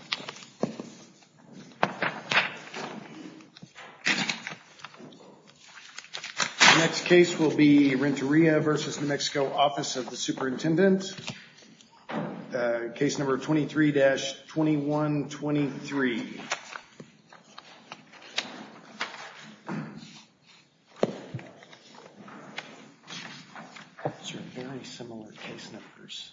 23-2123. Next case will be Renteria v. New Mexico Office of the Superintendent. Case number 23-2123. These are very similar case numbers.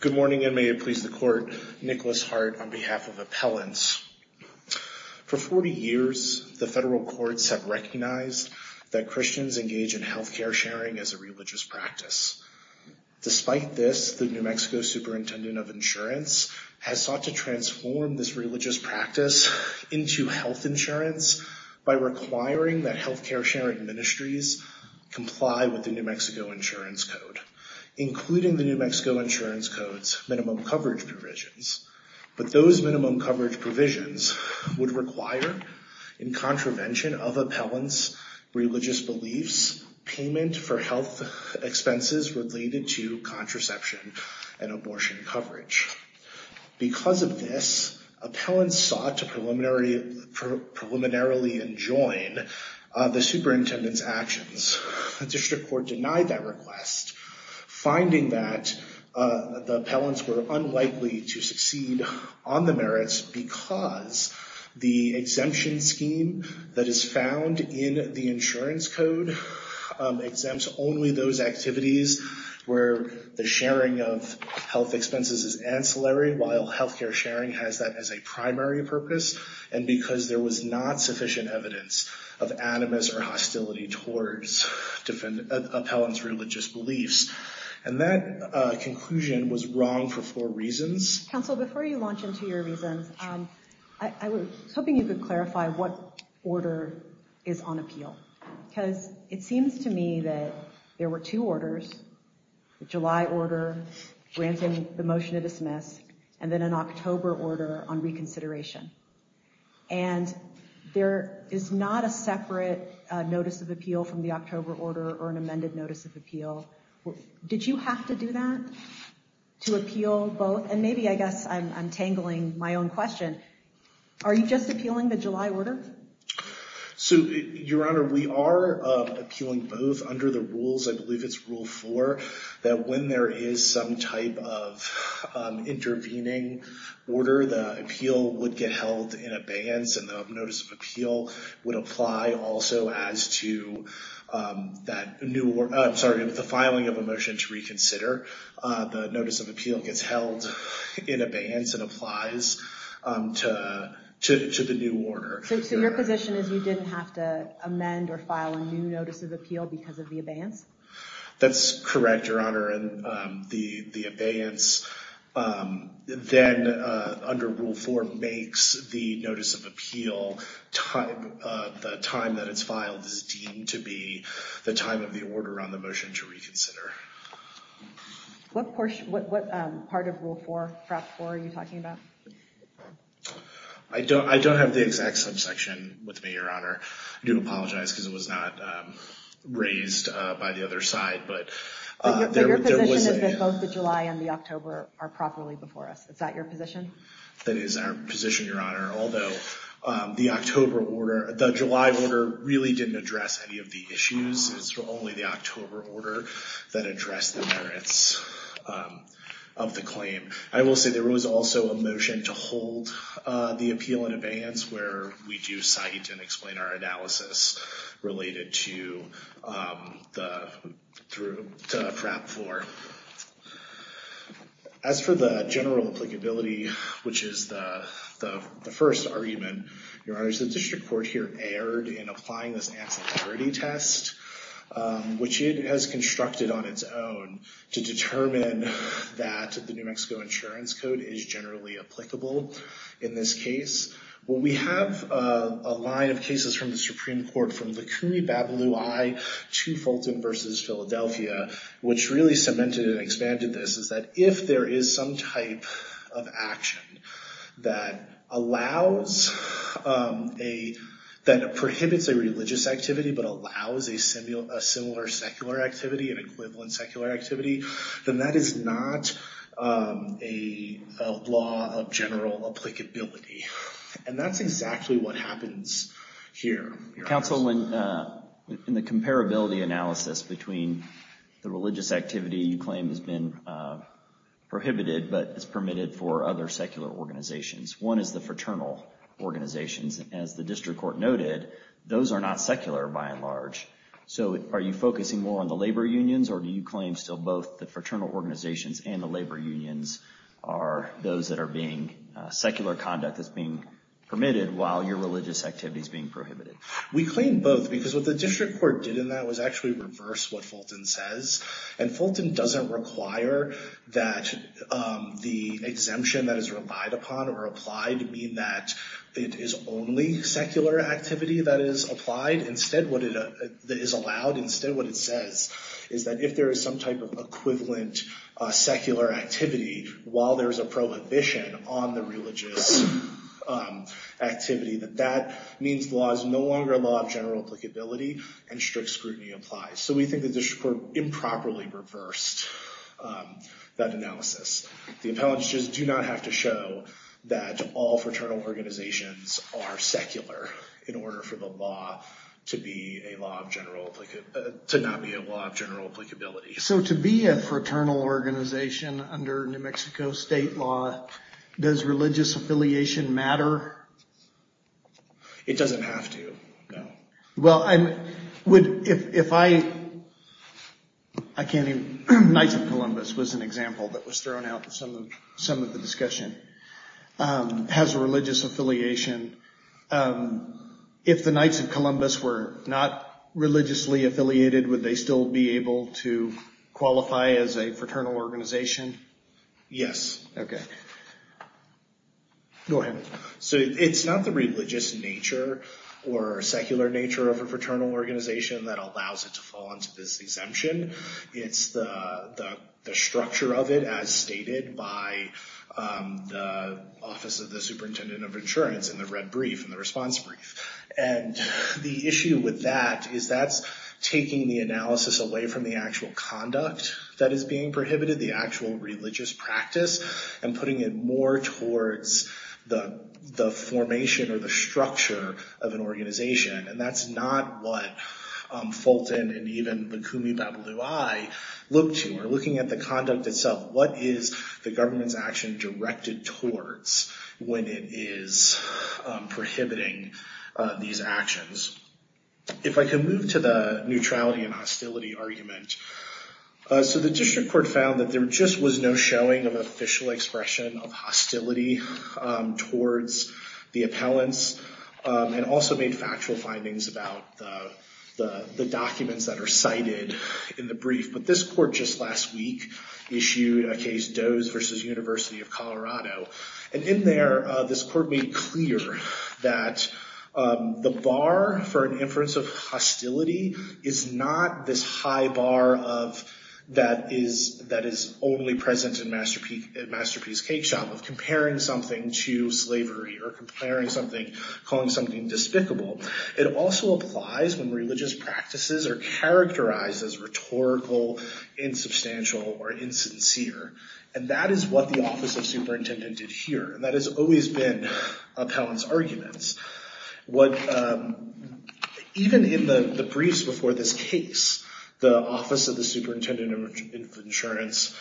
Good morning and may it please the court, Nicholas Hart on behalf of Appellants. For 40 years, the federal courts have recognized that Christians engage in health care sharing as a religious practice. Despite this, the New Mexico Superintendent of Insurance has sought to transform this religious practice into health insurance by requiring that health care sharing ministries comply with the New Mexico Insurance Code, including the New Mexico Insurance Code's minimum coverage provisions. But those minimum coverage provisions would require, in contravention of appellants' religious beliefs, payment for health expenses related to contraception and abortion coverage. Because of this, appellants sought to preliminarily enjoin the superintendent's actions. The district court denied that request, finding that the appellants were unlikely to succeed on the merits because the exemption scheme that is found in the insurance code exempts only those activities where the sharing of health expenses is ancillary, while health care sharing has that as a primary purpose, and because there was not sufficient evidence of animus or hostility towards appellants' religious beliefs. And that conclusion was wrong for four reasons. Counsel, before you launch into your reasons, I was hoping you could clarify what order is on appeal. Because it seems to me that there were two orders, the July order granting the motion to dismiss, and then an October order on reconsideration. And there is not a separate notice of appeal from the October order or an amended notice of appeal. Did you have to do that to appeal both? And maybe, I guess, I'm tangling my own question. Are you just appealing the July order? So, Your Honor, we are appealing both under the rules, I believe it's Rule 4, that when there is some type of intervening order, the appeal would get held in abeyance, and the notice of appeal would apply also as to that new order, I'm sorry, the filing of a motion to reconsider, the notice of appeal gets held in abeyance and applies to the new order. So your position is you didn't have to amend or file a new notice of appeal because of the abeyance? That's correct, Your Honor, and the abeyance then, under Rule 4, makes the notice of appeal the time that it's filed is deemed to be the time of the order on the motion to reconsider. What part of Rule 4, Prop 4, are you talking about? I don't have the exact subsection with me, Your Honor. I do apologize because it was not raised by the other side, but there was a- But your position is that both the July and the October are properly before us, is that your position? That is our position, Your Honor, although the October order, the July order really didn't address any of the issues, it's only the October order that addressed the merits of the claim. I will say there was also a motion to hold the appeal in abeyance where we do cite and our analysis related to Prop 4. As for the general applicability, which is the first argument, Your Honor, the district court here erred in applying this ancillary test, which it has constructed on its own to determine that the New Mexico Insurance Code is generally applicable in this case. We have a line of cases from the Supreme Court, from Likouri-Babalui to Fulton v. Philadelphia, which really cemented and expanded this, is that if there is some type of action that allows a, that prohibits a religious activity, but allows a similar secular activity, an And that's exactly what happens here, Your Honor. Counsel, in the comparability analysis between the religious activity you claim has been prohibited, but is permitted for other secular organizations, one is the fraternal organizations. As the district court noted, those are not secular by and large. So are you focusing more on the labor unions or do you claim still both the fraternal organizations and the labor unions are those that are being, secular conduct that's being permitted while your religious activity is being prohibited? We claim both because what the district court did in that was actually reverse what Fulton says. And Fulton doesn't require that the exemption that is relied upon or applied mean that it is only secular activity that is applied. Instead what it, that is allowed, instead what it says is that if there is some type of equivalent secular activity while there's a prohibition on the religious activity, that that means the law is no longer a law of general applicability and strict scrutiny applies. So we think the district court improperly reversed that analysis. The appellants just do not have to show that all fraternal organizations are secular in order for the law to be a law of general, to not be a law of general applicability. So to be a fraternal organization under New Mexico state law, does religious affiliation matter? It doesn't have to, no. Well I'm, would, if I, I can't even, Knights of Columbus was an example that was thrown out in some of the discussion, has religious affiliation, if the Knights of Columbus were not religiously affiliated, would they still be able to qualify as a fraternal organization? Yes. Okay. Go ahead. So it's not the religious nature or secular nature of a fraternal organization that allows it to fall into this exemption. It's the structure of it as stated by the office of the superintendent of insurance in the red brief, in the response brief. And the issue with that is that's taking the analysis away from the actual conduct that is being prohibited, the actual religious practice, and putting it more towards the formation or the structure of an organization. And that's not what Fulton and even the Kumi Babalui looked to, or looking at the conduct itself. What is the government's action directed towards when it is prohibiting these actions? If I can move to the neutrality and hostility argument. So the district court found that there just was no showing of official expression of hostility towards the appellants, and also made factual findings about the documents that are cited in the brief. But this court just last week issued a case, Doe's versus University of Colorado. And in there, this court made clear that the bar for an inference of hostility is not this high bar that is only present in Masterpiece Cake Shop, of comparing something to slavery, or comparing something, calling something despicable. It also applies when religious practices are characterized as rhetorical, insubstantial, or insincere. And that is what the office of superintendent did here. And that has always been appellants' arguments. Even in the briefs before this case, the office of the superintendent of insurance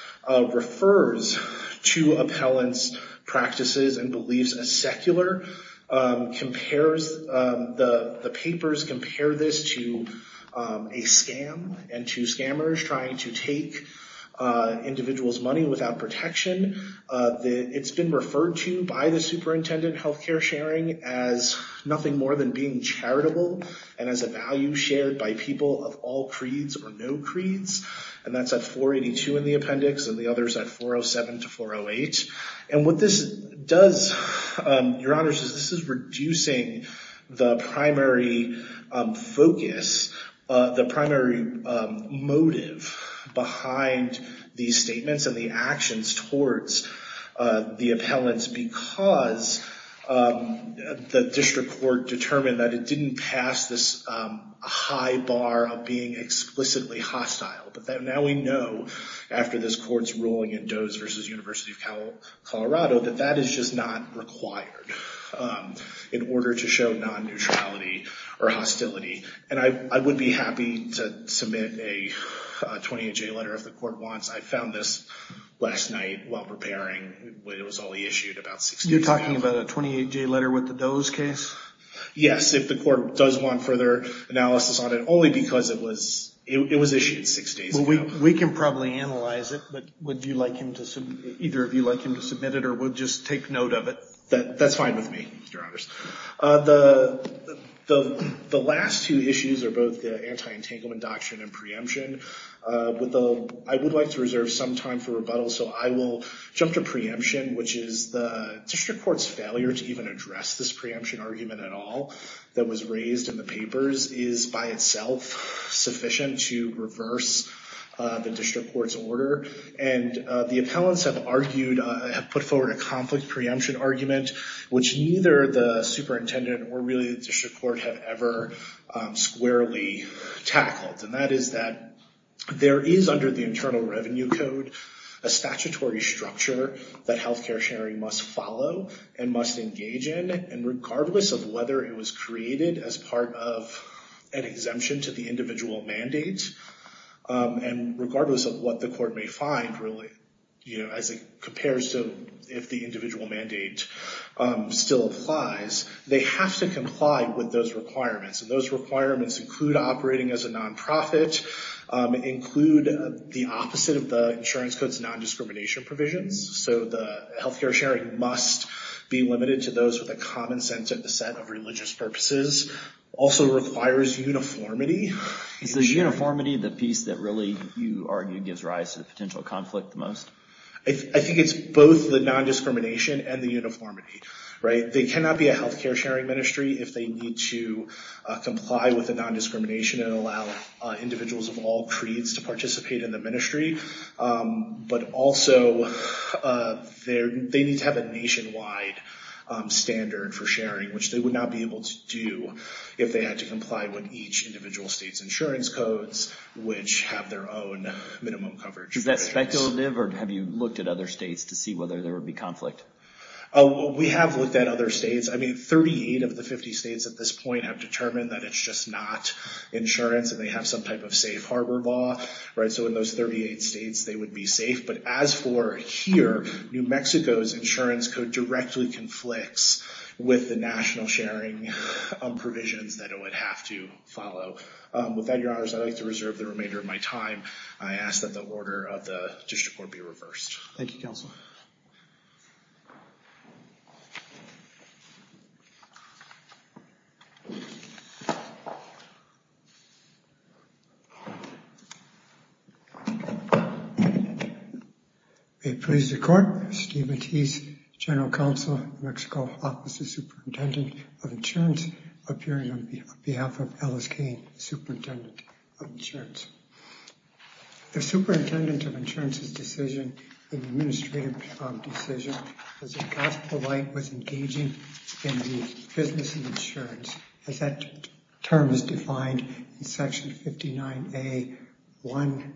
refers to appellants' practices and beliefs as secular. The papers compare this to a scam, and to scammers trying to take individuals' money without protection. It's been referred to by the superintendent of health care sharing as nothing more than being charitable, and as a value shared by people of all creeds or no creeds. And that's at 482 in the appendix, and the others at 407 to 408. And what this does, Your Honors, is this is reducing the primary focus, the primary motive behind these statements and the actions towards the appellants, because the district court determined that it didn't pass this high bar of being explicitly hostile. But now we know, after this court's ruling in Doe's v. University of Colorado, that that is just not required in order to show non-neutrality or hostility. And I would be happy to submit a 28-J letter if the court wants. I found this last night while preparing, when it was only issued about six days ago. You're talking about a 28-J letter with the Doe's case? Yes, if the court does want further analysis on it, only because it was issued six days ago. We can probably analyze it. But would you like him to submit it, or would you just take note of it? That's fine with me, Your Honors. The last two issues are both the anti-entanglement doctrine and preemption. I would like to reserve some time for rebuttal, so I will jump to preemption, which is the district court's failure to even address this preemption argument at all that was raised in the papers is, by itself, sufficient to reverse the district court's order. And the appellants have argued, have put forward a conflict preemption argument, which neither the superintendent or really the district court have ever squarely tackled. And that is that there is, under the Internal Revenue Code, a statutory structure that healthcare sharing must follow and must engage in, and regardless of whether it was created as part of an exemption to the individual mandate, and regardless of what the court may find, really, as it compares to if the individual mandate still applies, they have to comply with those requirements. And those requirements include operating as a nonprofit, include the opposite of the healthcare sharing must be limited to those with a common sense of religious purposes, also requires uniformity. Is the uniformity the piece that really, you argue, gives rise to the potential conflict the most? I think it's both the non-discrimination and the uniformity, right? They cannot be a healthcare sharing ministry if they need to comply with the non-discrimination and allow individuals of all creeds to participate in the ministry. But also, they need to have a nationwide standard for sharing, which they would not be able to do if they had to comply with each individual state's insurance codes, which have their own minimum coverage. Is that speculative, or have you looked at other states to see whether there would be conflict? We have looked at other states. I mean, 38 of the 50 states at this point have determined that it's just not insurance, and they have some type of safe harbor law, right? So in those 38 states, they would be safe. But as for here, New Mexico's insurance code directly conflicts with the national sharing provisions that it would have to follow. With that, your honors, I'd like to reserve the remainder of my time. I ask that the order of the district court be reversed. Thank you, counsel. May it please the court. Steve Matisse, General Counsel, New Mexico Office of Superintendent of Insurance, appearing on behalf of Ellis Cain, Superintendent of Insurance. The Superintendent of Insurance's decision, the administrative decision, as a gospel-like was engaging in the business of insurance, as that term is defined in section 59A-1-5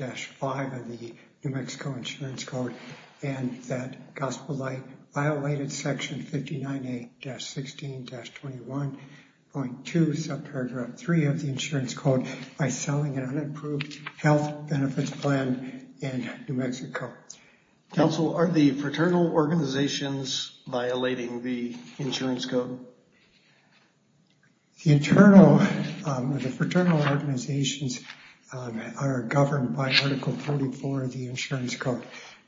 of the New Mexico Insurance Code, and that gospel-like violated section 59A-16-21.2, subparagraph 3 of the insurance code, by selling an unapproved health benefits plan in New Mexico. Counsel, are the fraternal organizations violating the insurance code? The fraternal organizations are governed by Article 44 of the insurance code.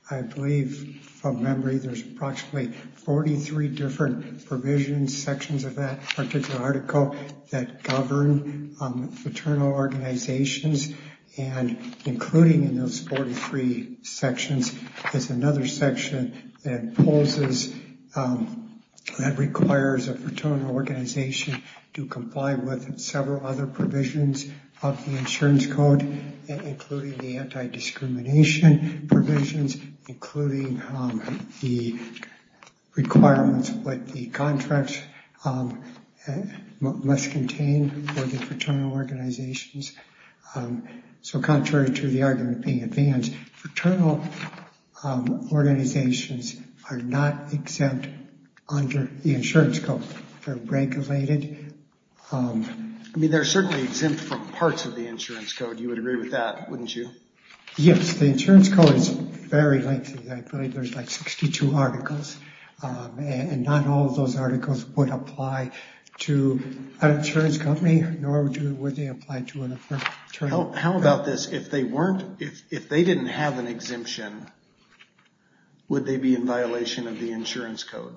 I believe, from memory, there's approximately 43 different provisions, sections of that particular article that govern fraternal organizations, and including in those 43 sections is another section that imposes, that requires a fraternal organization to comply with several other provisions of the insurance code, including the anti-discrimination provisions, including the requirements of what the contracts must contain for the fraternal organizations. So contrary to the argument being advanced, fraternal organizations are not exempt under the insurance code. They're regulated. I mean, they're certainly exempt from parts of the insurance code. You would agree with that, wouldn't you? Yes, the insurance code is very lengthy. I believe there's like 62 articles, and not all of those articles would apply to an insurance company, nor would they apply to a fraternal company. How about this? If they weren't, if they didn't have an exemption, would they be in violation of the insurance code?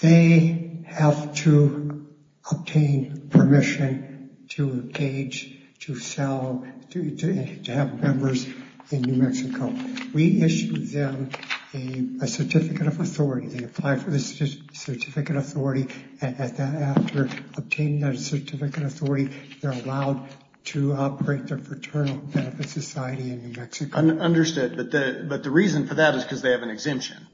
They have to obtain permission to engage, to sell, to have members in New Mexico. We issued them a certificate of authority. They apply for the certificate of authority, and after obtaining that certificate of authority, they're allowed to operate their fraternal benefit society in New Mexico. Understood, but the reason for that is because they have an exemption.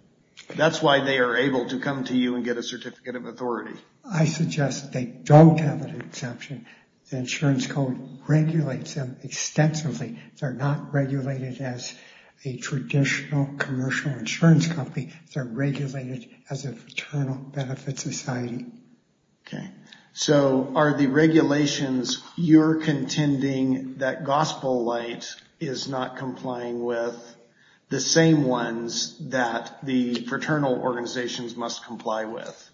That's why they are able to come to you and get a certificate of authority. I suggest they don't have an exemption. The insurance code regulates them extensively. They're not regulated as a traditional commercial insurance company. They're regulated as a fraternal benefit society. Okay, so are the regulations you're contending that Gospel Light is not complying with the same ones that the fraternal organizations must comply with?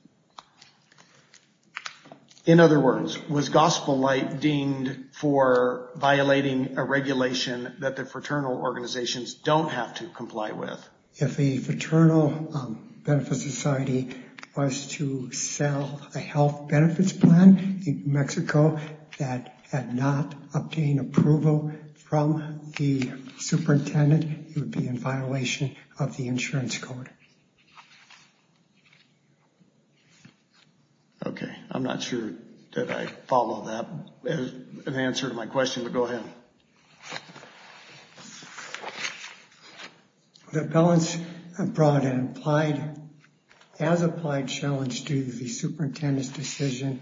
In other words, was Gospel Light deemed for violating a regulation that the fraternal organizations don't have to comply with? If a fraternal benefit society was to sell a health benefits plan in New Mexico that had not obtained approval from the superintendent, it would be in violation of the insurance code. Okay, I'm not sure that I follow that as an answer to my question, but go ahead. Okay, the appellants brought an as-applied challenge to the superintendent's decision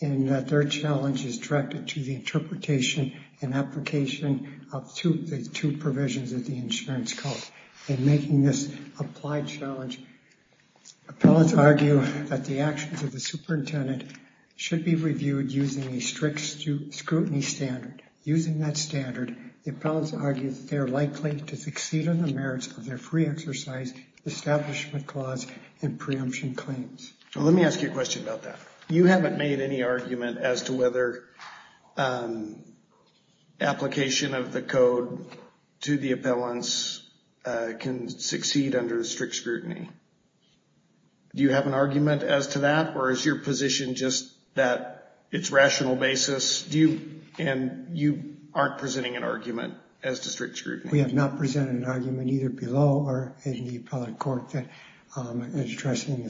in that their challenge is directed to the interpretation and application of the two provisions of the insurance code. In making this applied challenge, appellants argue that the actions of the superintendent should be reviewed using a strict scrutiny standard. Using that standard, the appellants argue that they're likely to succeed on the merits of their free exercise, establishment clause, and preemption claims. Let me ask you a question about that. You haven't made any argument as to whether application of the code to the appellants can succeed under strict scrutiny. Do you have an argument as to that? Or is your position just that it's rational basis, and you aren't presenting an argument as to strict scrutiny? We have not presented an argument either below or in the appellate court that is addressing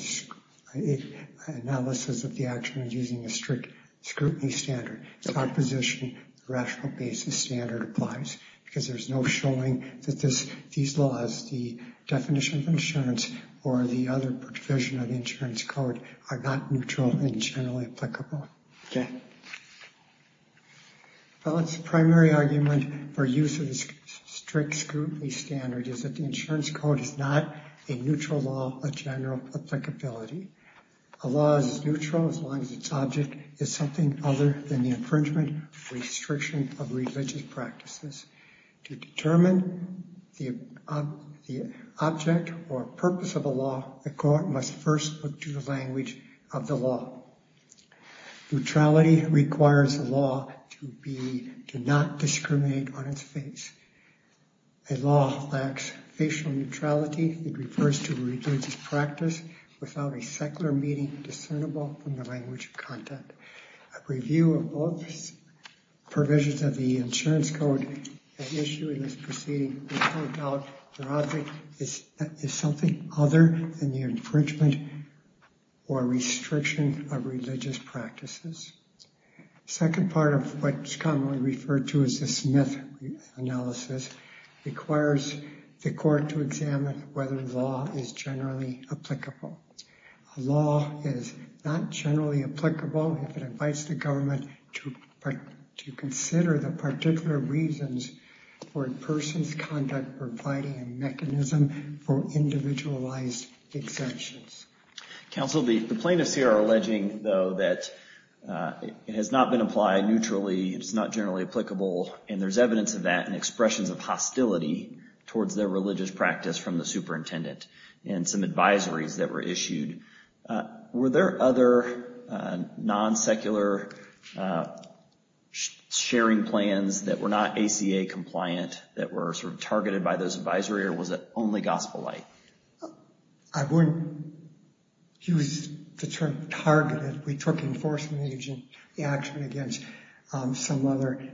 the analysis of the actions using a strict scrutiny standard. It's our position the rational basis standard applies because there's no showing that these laws, the definition of insurance, or the other provision of the insurance code are not neutral and generally applicable. Appellants' primary argument for use of the strict scrutiny standard is that the insurance code is not a neutral law of general applicability. A law is neutral as long as its object is something other than the infringement restriction of religious practices. To determine the object or purpose of a law, the court must first look to the language of the law. Neutrality requires a law to not discriminate on its face. A law lacks facial neutrality. It refers to religious practice without a secular meaning discernible from the language of content. A review of both provisions of the insurance code at issue in this proceeding will point out the object is something other than the infringement or restriction of religious practices. Second part of what's commonly referred to as the Smith analysis requires the court to examine whether the law is generally applicable. A law is not generally applicable if it invites the government to consider the particular reasons for a person's conduct providing a mechanism for individualized exemptions. Counsel, the plaintiffs here are alleging though that it has not been applied neutrally, it's not generally applicable, and there's evidence of that in expressions of hostility towards their religious practice from the superintendent and some advisories that were issued. Were there other non-secular sharing plans that were not ACA compliant that were sort of targeted by those advisory or was it only gospel-like? I wouldn't use the term targeted. We took enforcement action against some other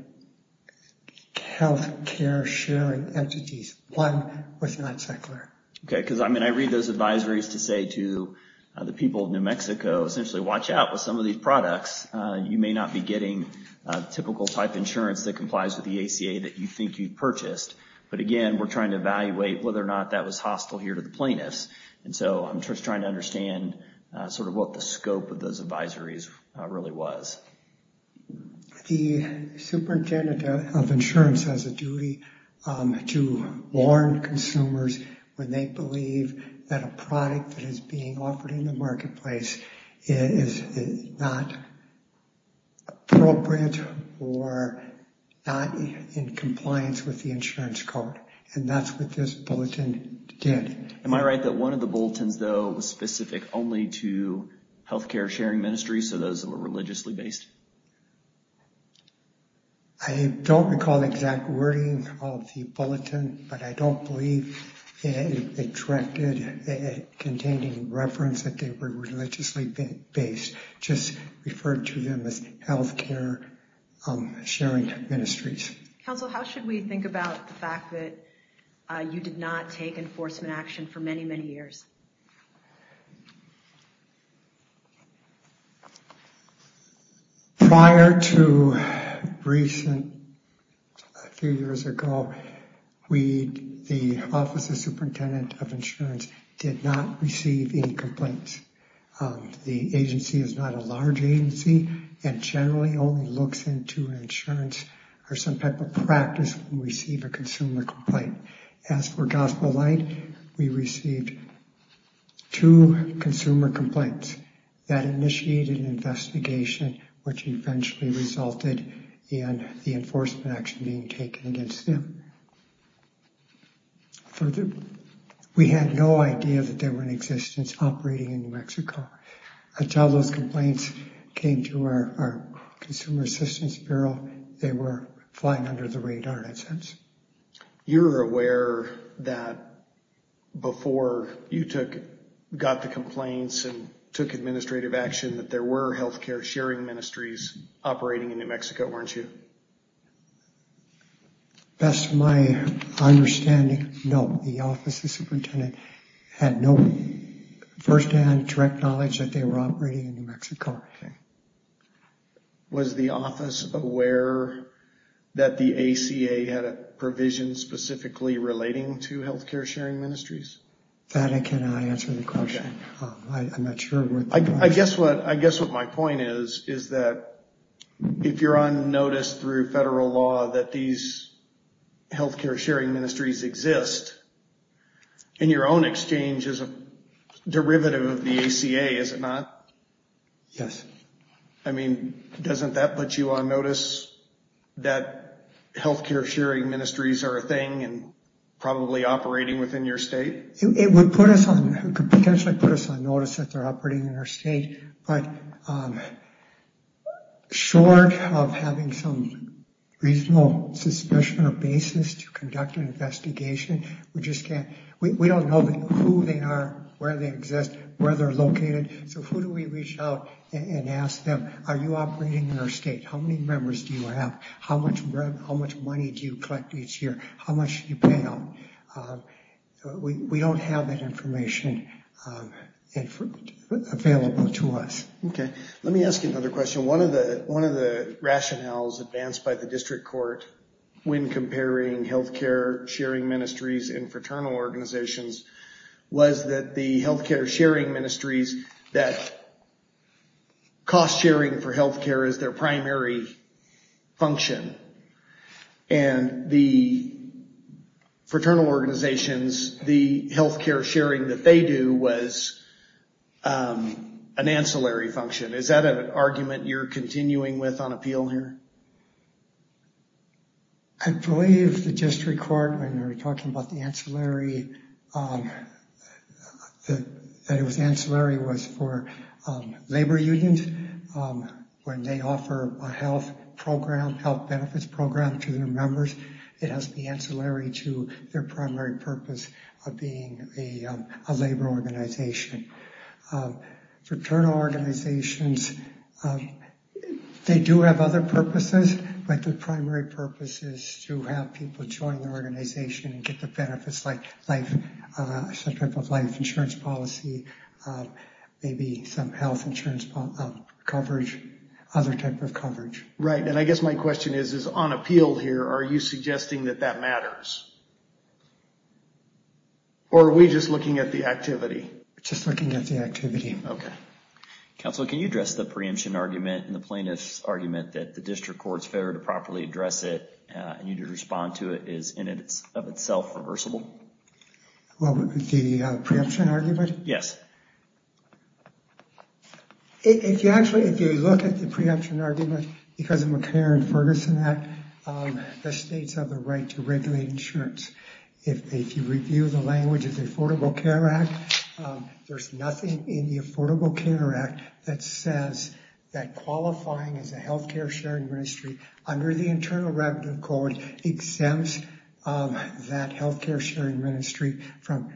healthcare sharing entities. One was non-secular. Okay, because I mean, I read those advisories to say to the people of New Mexico, essentially, watch out with some of these products. You may not be getting a typical type insurance that complies with the ACA that you think you purchased. But again, we're trying to evaluate whether or not that was hostile here to the plaintiffs. And so I'm just trying to understand sort of what the scope of those advisories really was. The superintendent of insurance has a duty to warn consumers when they believe that a product that is being offered in the marketplace is not appropriate or not in compliance with the insurance code. And that's what this bulletin did. Am I right that one of the bulletins, though, was specific only to healthcare sharing ministries, so those that were religiously based? I don't recall the exact wording of the bulletin, but I don't believe it directed containing reference that they were religiously based, just referred to them as healthcare sharing ministries. Counsel, how should we think about the fact that you did not take enforcement action for many, many years? Prior to recent, a few years ago, we, the office of superintendent of insurance, did not receive any complaints. The agency is not a large agency and generally only looks into insurance or some type of practice when we receive a consumer complaint. As for Gospel Light, we received no complaints. Two consumer complaints that initiated an investigation, which eventually resulted in the enforcement action being taken against them. Further, we had no idea that they were in existence operating in New Mexico. Until those complaints came to our consumer assistance bureau, they were flying under the radar in a sense. You're aware that before you took, got the complaints and took administrative action, that there were healthcare sharing ministries operating in New Mexico, weren't you? Best of my understanding, no. The office of superintendent had no firsthand, direct knowledge that they were operating in New Mexico. Okay. Was the office aware that the ACA had a provision specifically relating to healthcare sharing ministries? Fannie, can I answer the question? I'm not sure. I guess what my point is, is that if you're on notice through federal law that these healthcare sharing ministries exist, in your own exchange as a derivative of the ACA, is it not? Yes. I mean, doesn't that put you on notice that healthcare sharing ministries are a thing and probably operating within your state? It would put us on, it could potentially put us on notice that they're operating in our state, but short of having some reasonable suspicion or basis to conduct an investigation, we just can't, we don't know who they are, where they exist, where they're located. So who do we reach out and ask them, are you operating in our state? How many members do you have? How much money do you collect each year? How much do you pay out? We don't have that information available to us. Okay. Let me ask you another question. One of the rationales advanced by the district court when comparing healthcare sharing ministries and fraternal organizations was that the healthcare sharing ministries, that cost sharing for healthcare is their primary function and the fraternal organizations, the healthcare sharing that they do was an ancillary function. Is that an argument you're continuing with on appeal here? I believe the district court, when they were talking about the ancillary, that it was ancillary was for labor unions when they offer a health program, health benefits program to their members, it has the ancillary to their primary purpose of being a labor organization. Fraternal organizations, they do have other purposes, but the primary purpose is to have people join the organization and get the benefits like some type of life insurance policy, maybe some health insurance coverage, other type of coverage. Right, and I guess my question is, is on appeal here, are you suggesting that that matters? Or are we just looking at the activity? Just looking at the activity. Okay. Counsel, can you address the preemption argument and the plaintiff's argument that the district court's failure to properly address it and you need to respond to it is in and of itself reversible? Well, the preemption argument? Yes. If you actually, if you look at the preemption argument because of the McCarran-Ferguson Act, the states have the right to regulate insurance. If you review the language of the Affordable Care Act, there's nothing in the Affordable Care Act that says that qualifying as a healthcare sharing ministry under the Internal Revenue Code exempts that healthcare sharing ministry from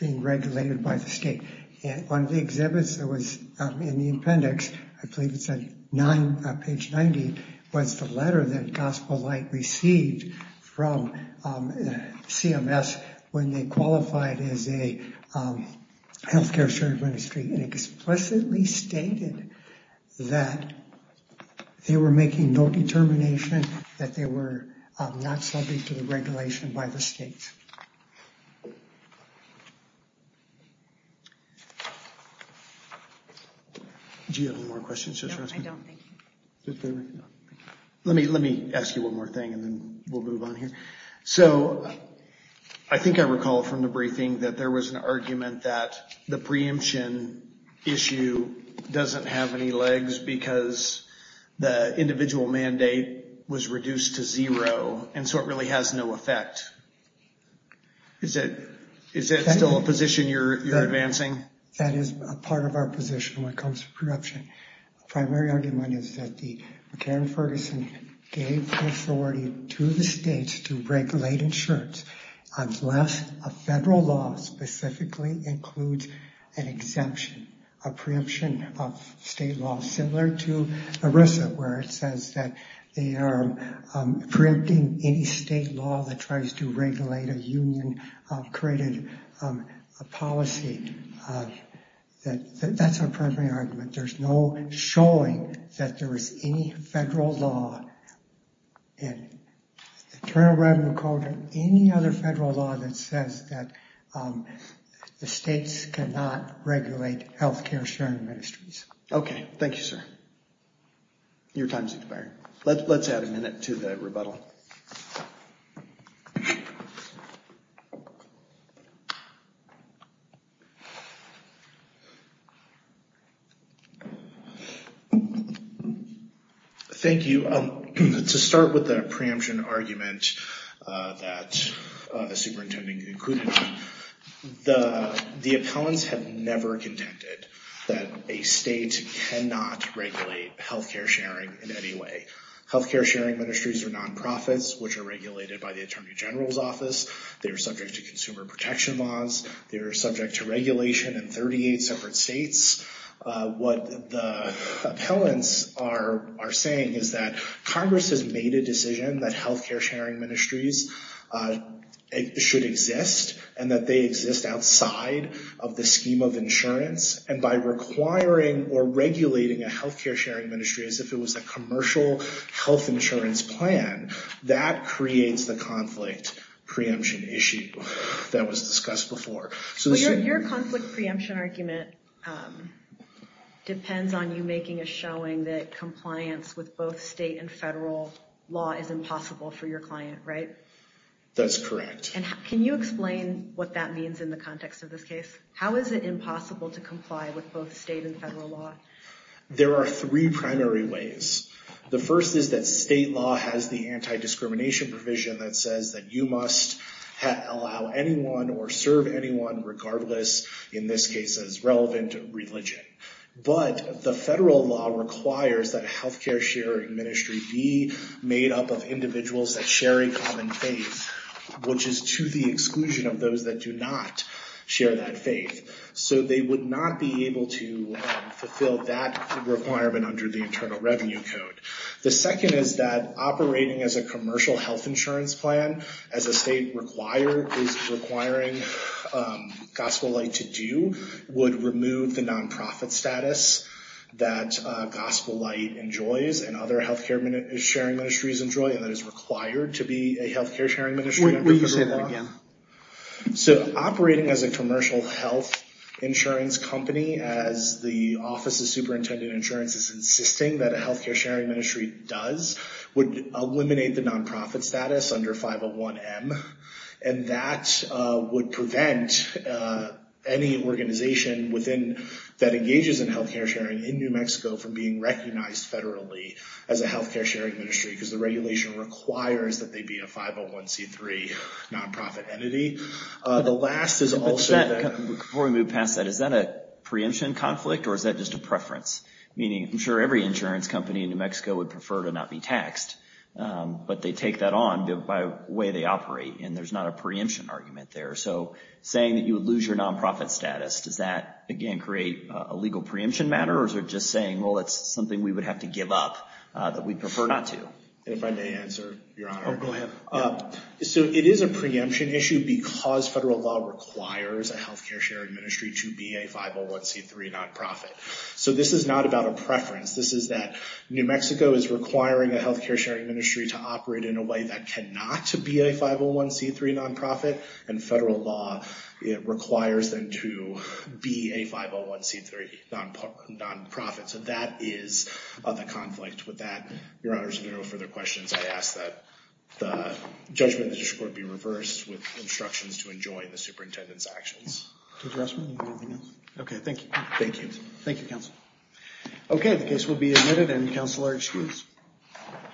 being regulated by the state. And one of the exhibits that was in the appendix, I believe it's at nine, page 90, was the letter that Gospel Light received from CMS when they qualified as a healthcare sharing ministry and explicitly stated that they were making no determination that they were not subject to the regulation by the states. Do you have any more questions? No, I don't, thank you. Let me ask you one more thing and then we'll move on here. So I think I recall from the briefing that there was an argument that the preemption issue doesn't have any legs because the individual mandate was reduced to zero and so it really has no effect. Is that still a position you're advancing? That is a part of our position when it comes to preemption. The primary argument is that the McCarran-Ferguson gave authority to the states to regulate insurance. Unless a federal law specifically includes an exemption, a preemption of state law similar to ERISA where it says that they are preempting any state law that tries to regulate a union-created policy. That's our primary argument. There's no showing that there is any federal law and Attorney General Braden will call to any other federal law that says that the states cannot regulate health care sharing ministries. Okay, thank you, sir. Your time has expired. Let's add a minute to the rebuttal. Thank you. To start with the preemption argument that the superintendent included, the appellants have never contended that a state cannot regulate health care sharing in any way. Health care sharing ministries are non-profits which are regulated by the Attorney General's office. They are subject to consumer protection laws. They are subject to regulation in 38 separate states. What the appellants are saying is that Congress has made a decision that health care sharing ministries should exist and that they exist outside of the scheme of insurance. And by requiring or regulating a health care sharing ministry as if it was a commercial health insurance plan, that creates the conflict preemption issue that was discussed before. Your conflict preemption argument depends on you making a showing that compliance with both state and federal law is impossible for your client, right? That's correct. And can you explain what that means in the context of this case? How is it impossible to comply with both state and federal law? There are three primary ways. The first is that state law has the anti-discrimination provision that says that you must allow anyone or serve anyone regardless, in this case, as relevant religion. But the federal law requires that a health care sharing ministry be made up of individuals that share a common faith, which is to the exclusion of those that do not share that faith. So they would not be able to fulfill that requirement under the Internal Revenue Code. The second is that operating as a commercial health insurance plan as a state is requiring Gospel Light to do would remove the non-profit status that Gospel Light enjoys and other health care sharing ministries enjoy and that is required to be a health care sharing ministry. Will you say that again? So operating as a commercial health insurance company as the Office of Superintendent Insurance is insisting that a health care sharing ministry does would eliminate the non-profit status under 501M and that would prevent any organization within that engages in health care sharing in New Mexico from being recognized federally as a health care sharing ministry because the regulation requires that they be a 501C3 non-profit entity. The last is also... Before we move past that, is that a preemption conflict or is that just a preference? Meaning, I'm sure every insurance company in New Mexico would prefer to not be taxed but they take that on by the way they operate and there's not a preemption argument there. So saying that you would lose your non-profit status, does that, again, create a legal preemption matter or is it just saying, well, it's something we would have to give up that we prefer not to? And if I may answer, Your Honor. Oh, go ahead. So it is a preemption issue because federal law requires a health care sharing ministry to be a 501C3 non-profit. So this is not about a preference. This is that New Mexico is requiring a health care sharing ministry to operate in a way that cannot be a 501C3 non-profit and federal law requires them to be a 501C3 non-profit. So that is the conflict with that. Your Honor, if there are no further questions, I ask that the judgment of the district court be reversed with instructions to enjoin the superintendent's actions. Judge Ressman, anything else? Okay, thank you. Thank you. Thank you, counsel. Okay, the case will be admitted and counsel are excused. Thank you.